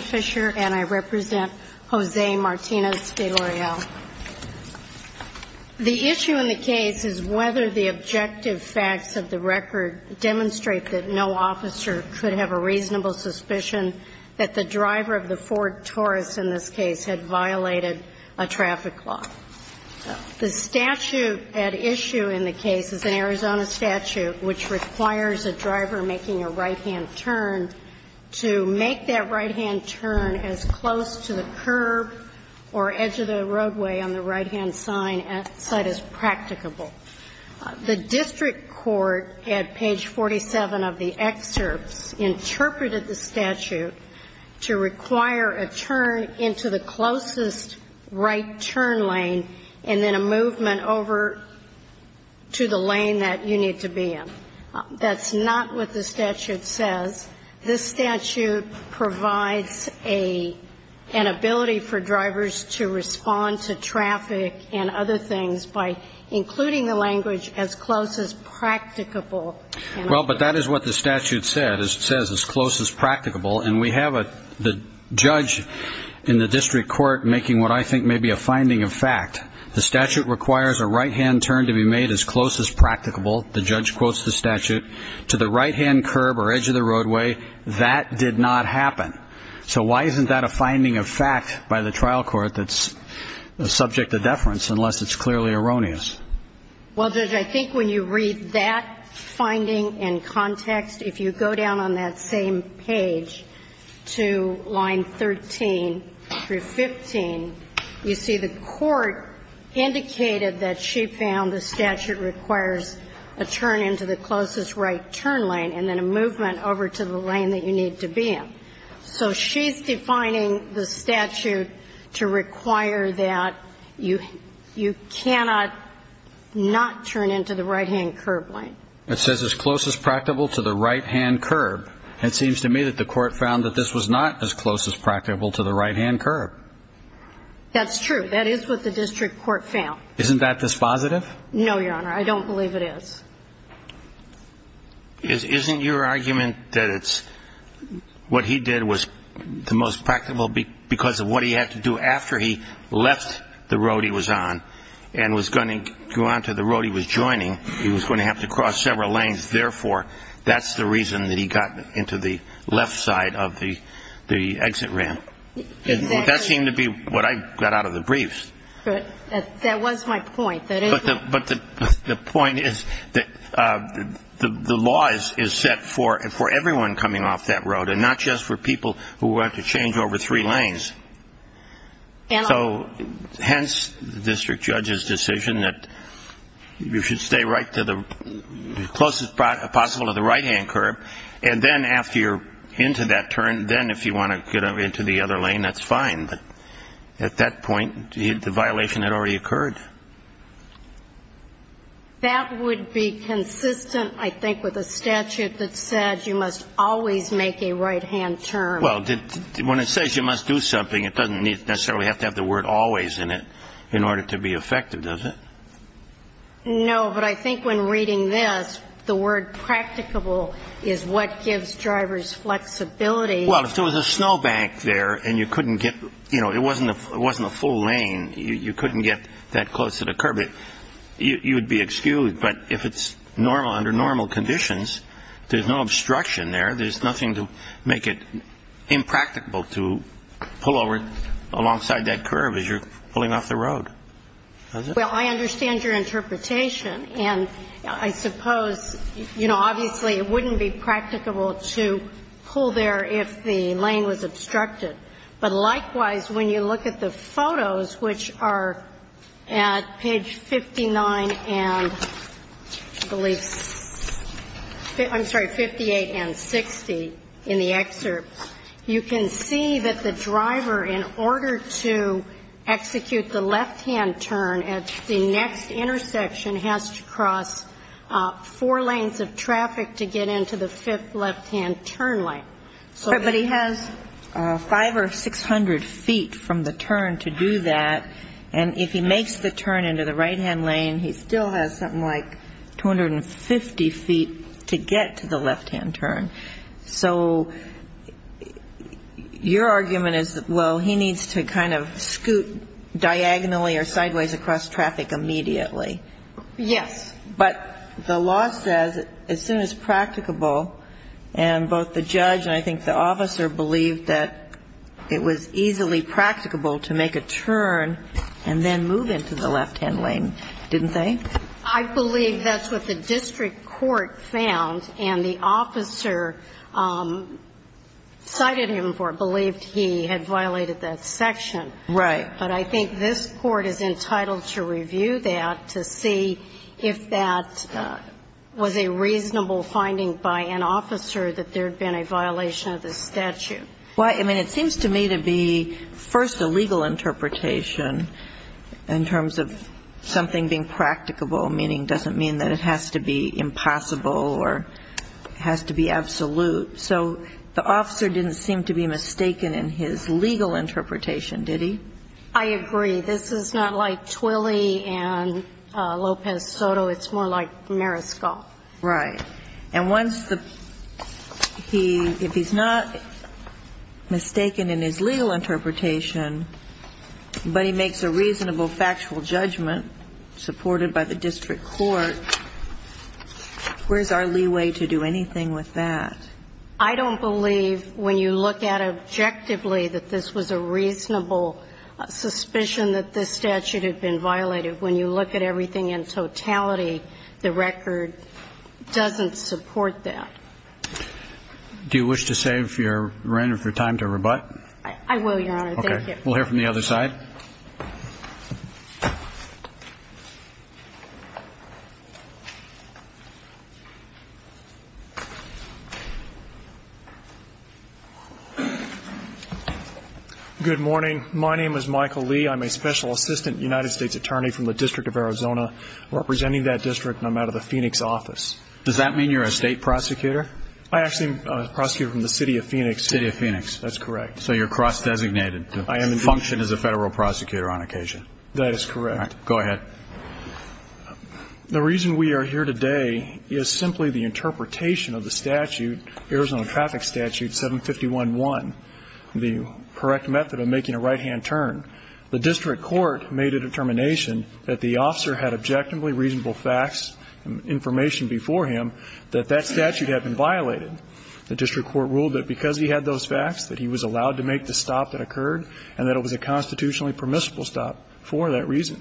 Fisher, and I represent Jose Martinez de Loreal. The issue in the case is whether the objective facts of the record demonstrate that no officer could have a reasonable suspicion that the driver of the Ford Taurus in this case had violated a traffic law. The statute at issue in the case is an Arizona statute which requires a driver making a right-hand turn to make that right-hand turn as close to the curb or edge of the roadway on the right-hand side as practicable. The district court, at page 47 of the excerpts, interpreted the statute to require a turn into the closest right turn lane and then a movement over to the lane that you need to be in. That's not what the statute says. This statute provides an ability for drivers to respond to traffic and other things by including the language as close as practicable. Well, but that is what the statute says, as close as practicable, and we have the judge in the district court making what I think may be a finding of fact. The statute requires a right-hand turn to be made as close as practicable, the judge quotes the statute, to the right-hand curb or edge of the roadway. That did not happen. So why isn't that a finding of fact by the trial court that's subject to deference unless it's clearly erroneous? Well, Judge, I think when you read that finding in context, if you go down on that same page to line 13 through 15, you see the court indicated that she found the statute requires a turn into the closest right turn lane and then a movement over to the lane that you need to be in. So she's defining the statute to require that you cannot not turn into the right-hand curb lane. It says as close as practicable to the right-hand curb. It seems to me that the court found that this was not as close as practicable to the right-hand curb. That's true. That is what the district court found. Isn't that dispositive? No, Your Honor. I don't believe it is. Isn't your argument that it's what he did was the most practicable because of what he had to do after he left the road he was on and was going to go onto the road he was joining, he was going to have to cross several lanes. Therefore, that's the reason that he got into the left side of the exit ramp. That seemed to be what I got out of the briefs. That was my point. But the point is that the law is set for everyone coming off that road and not just for people who have to change over three lanes. Hence, the district judge's decision that you should stay right to the closest possible to the right-hand curb and then after you're into that turn, then if you want to get into the other lane, that's fine. But at that point, the violation had already occurred. That would be consistent, I think, with a statute that said you must always make a right-hand turn. Well, when it says you must do something, it doesn't necessarily have to have the word always in it in order to be effective, does it? No, but I think when reading this, the word practicable is what gives drivers flexibility. Well, if there was a snowbank there and you couldn't get, you know, it wasn't a full lane, you couldn't get that close to the curb, you would be excused. But if it's normal, under normal conditions, there's no obstruction there. There's nothing to make it impracticable to pull over alongside that curb as you're pulling off the road. Well, I understand your interpretation. And I suppose, you know, obviously it wouldn't be practicable to pull there if the lane was obstructed. But likewise, when you look at the photos, which are at page 59 and, I believe 58 and 60 in the excerpt, you can see that the driver, in order to execute the left-hand turn at the next intersection, has to cross four lanes of traffic to get into the fifth left-hand turn lane. Right. But he has 500 or 600 feet from the turn to do that. And if he makes the turn into the right-hand lane, he still has something like 250 feet to get to the left-hand turn. So your argument is, well, he needs to kind of scoot diagonally or something sideways across traffic immediately. Yes. But the law says as soon as practicable, and both the judge and I think the officer believed that it was easily practicable to make a turn and then move into the left-hand lane, didn't they? I believe that's what the district court found. And the officer cited him for it, believed he had violated that section. Right. But I think this Court is entitled to review that to see if that was a reasonable finding by an officer, that there had been a violation of the statute. Well, I mean, it seems to me to be, first, a legal interpretation in terms of something being practicable, meaning it doesn't mean that it has to be impossible or has to be a reasonable finding. I agree. This is not like Twilley and Lopez Soto. It's more like Mariscal. Right. And once the he, if he's not mistaken in his legal interpretation, but he makes a reasonable factual judgment supported by the district court, where's our leeway to do anything with that? I don't believe, when you look at it objectively, that this was a reasonable suspicion that this statute had been violated. When you look at everything in totality, the record doesn't support that. Do you wish to save your time to rebut? I will, Your Honor. Thank you. Okay. We'll hear from the other side. Good morning. My name is Michael Lee. I'm a special assistant United States attorney from the District of Arizona, representing that district, and I'm out of the Phoenix office. Does that mean you're a state prosecutor? I actually am a prosecutor from the City of Phoenix. City of Phoenix. That's correct. So you're cross-designated to function as a federal prosecutor on occasion? That is correct. All right. Go ahead. The reason we are here today is simply the interpretation of the statute, Arizona Traffic Statute 751.1, the correct method of making a right-hand turn. The district court made a determination that the officer had objectively reasonable facts and information before him that that statute had been violated. The district court ruled that because he had those facts, that he was allowed to make the stop that occurred, and that it was a constitutionally permissible stop for that reason.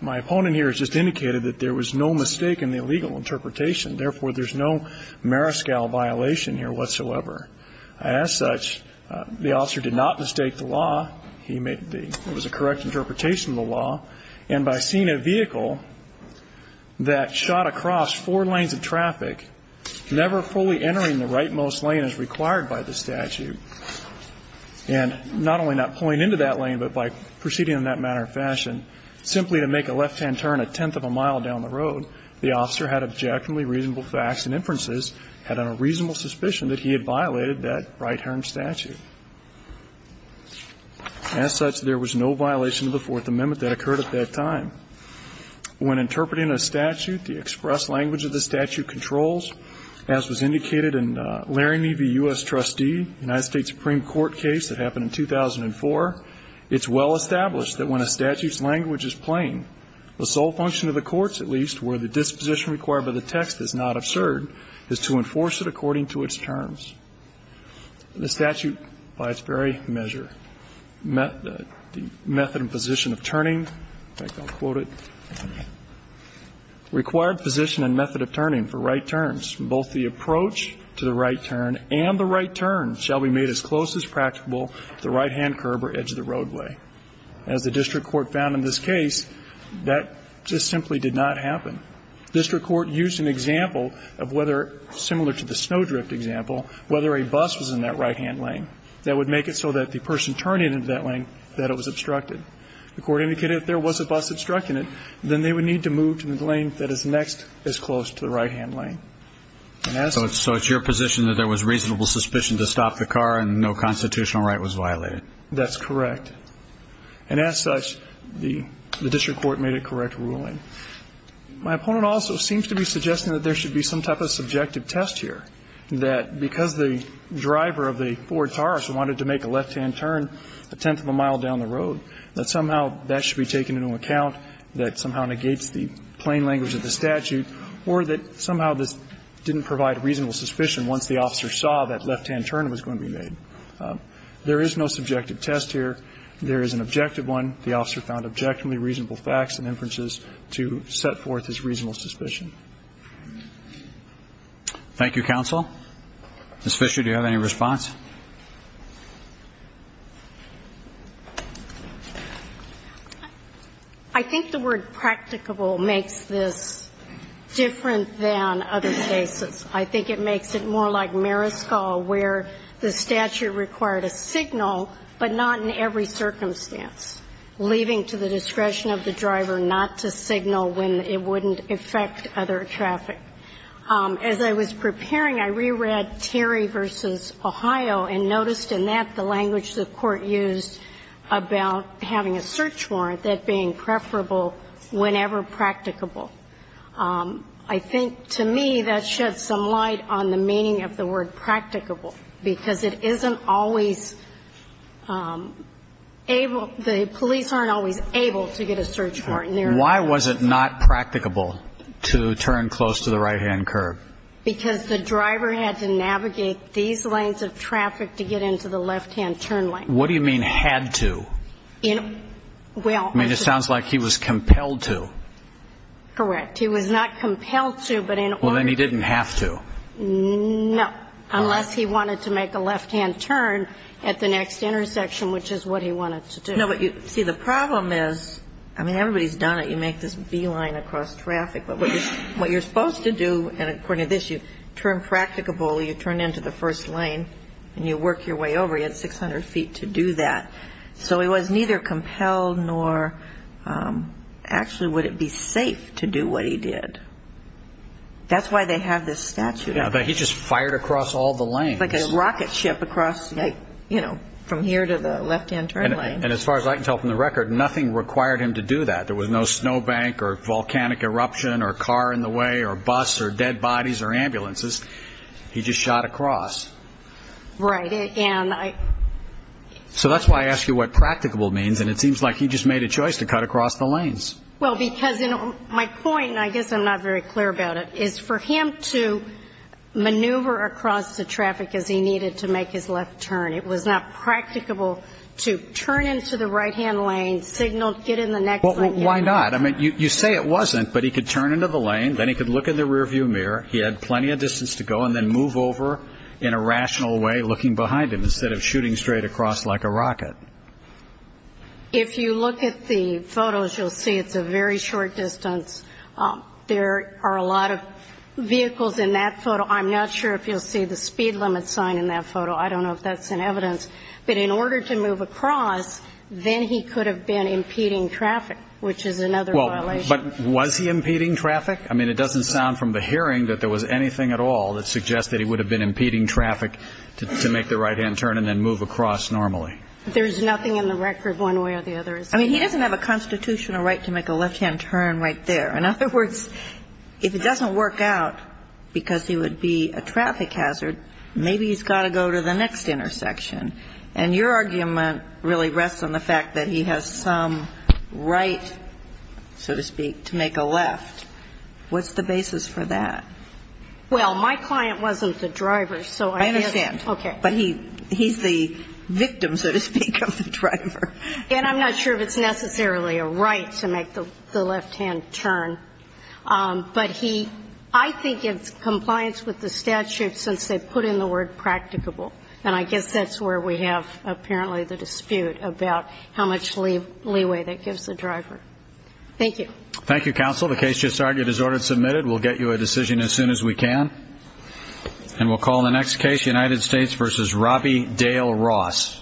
My opponent here has just indicated that there was no mistake in the legal interpretation. Therefore, there's no mariscal violation here whatsoever. As such, the officer did not mistake the law. He made the correct interpretation of the law. And by seeing a vehicle that shot across four lanes of traffic, never fully entering the rightmost lane as required by the statute, and not only not pulling into that lane, but by proceeding in that manner or fashion, simply to make a left-hand turn a tenth of a mile down the road, the officer had objectively reasonable facts and inferences, had a reasonable suspicion that he had violated that right-hand statute. As such, there was no violation of the Fourth Amendment that occurred at that time. When interpreting a statute, the express language of the statute controls, as was indicated in Laramie v. U.S. Trustee, a United States Supreme Court case that happened in 2004, it's well established that when a statute's language is plain, the sole function of the courts, at least, where the disposition required by the text is not absurd, is to enforce it according to its terms. The statute, by its very measure, the method and position of turning, in fact, I'll quote it, required position and method of turning for right turns. Both the approach to the right turn and the right turn shall be made as close as practicable to the right-hand curb or edge of the roadway. As the district court found in this case, that just simply did not happen. District court used an example of whether, similar to the snow drift example, whether a bus was in that right-hand lane. That would make it so that if the person turned into that lane, that it was obstructed. The court indicated if there was a bus obstructing it, then they would need to move to the lane that is next as close to the right-hand lane. And as such... So it's your position that there was reasonable suspicion to stop the car and no constitutional right was violated? That's correct. And as such, the district court made a correct ruling. My opponent also seems to be suggesting that there should be some type of subjective test here, that because the driver of the Ford Taurus wanted to make a left-hand turn a tenth of a mile down the road, that somehow that should be taken into account, that somehow negates the plain language of the statute, or that somehow this didn't provide reasonable suspicion once the officer saw that left-hand turn was going to be made. There is no subjective test here. There is an objective one. The officer found objectively reasonable facts and inferences to set forth his reasonable suspicion. Thank you, counsel. Ms. Fisher, do you have any response? I think the word practicable makes this different than other cases. I think it makes it more like Maryskull, where the statute required a signal, but not in every circumstance, leaving to the discretion of the driver not to signal when it wouldn't affect other traffic. As I was preparing, I reread Terry v. Ohio and noticed in that the language the court used about having a search warrant, that being preferable whenever practicable. I think, to me, that sheds some light on the meaning of the word practicable, because it isn't always able, the police aren't always able to get a search warrant there. And why was it not practicable to turn close to the right-hand curb? Because the driver had to navigate these lanes of traffic to get into the left-hand turn lane. What do you mean, had to? Well, I just... I mean, it sounds like he was compelled to. Correct. He was not compelled to, but in order... Well, then he didn't have to. No. All right. Unless he wanted to make a left-hand turn at the next intersection, which is what he wanted to do. See, the problem is, I mean, everybody's done it. You make this beeline across traffic, but what you're supposed to do, and according to this, you turn practicable, you turn into the first lane, and you work your way over. He had 600 feet to do that. So he was neither compelled nor actually would it be safe to do what he did. That's why they have this statute. Yeah, but he just fired across all the lanes. Like a rocket ship across, you know, from here to the left-hand turn lane. And as far as I can tell from the record, nothing required him to do that. There was no snowbank or volcanic eruption or car in the way or bus or dead bodies or ambulances. He just shot across. Right, and I... So that's why I ask you what practicable means, and it seems like he just made a choice to cut across the lanes. Well, because my point, and I guess I'm not very clear about it, is for him to maneuver across the traffic as he needed to make his left turn. It was not practicable to turn into the right-hand lane, signal, get in the next lane. Well, why not? I mean, you say it wasn't, but he could turn into the lane. Then he could look in the rearview mirror. He had plenty of distance to go and then move over in a rational way looking behind him instead of shooting straight across like a rocket. If you look at the photos, you'll see it's a very short distance. There are a lot of vehicles in that photo. I'm not sure if you'll see the speed limit sign in that photo. I don't know if that's in evidence, but in order to move across, then he could have been impeding traffic, which is another violation. Well, but was he impeding traffic? I mean, it doesn't sound from the hearing that there was anything at all that suggests that he would have been impeding traffic to make the right-hand turn and then move across normally. There's nothing in the record one way or the other. I mean, he doesn't have a constitutional right to make a left-hand turn right there. In other words, if it doesn't work out because he would be a traffic hazard, maybe he's got to go to the next intersection. And your argument really rests on the fact that he has some right, so to speak, to make a left. What's the basis for that? Well, my client wasn't the driver, so I understand. Okay. But he's the victim, so to speak, of the driver. And I'm not sure if it's necessarily a right to make the left-hand turn. But he – I think it's compliance with the statute since they put in the word practicable. And I guess that's where we have apparently the dispute about how much leeway that gives the driver. Thank you. Thank you, counsel. The case just argued is order submitted. We'll get you a decision as soon as we can. And we'll call the next case, United States v. Robby Dale Ross. Thank you.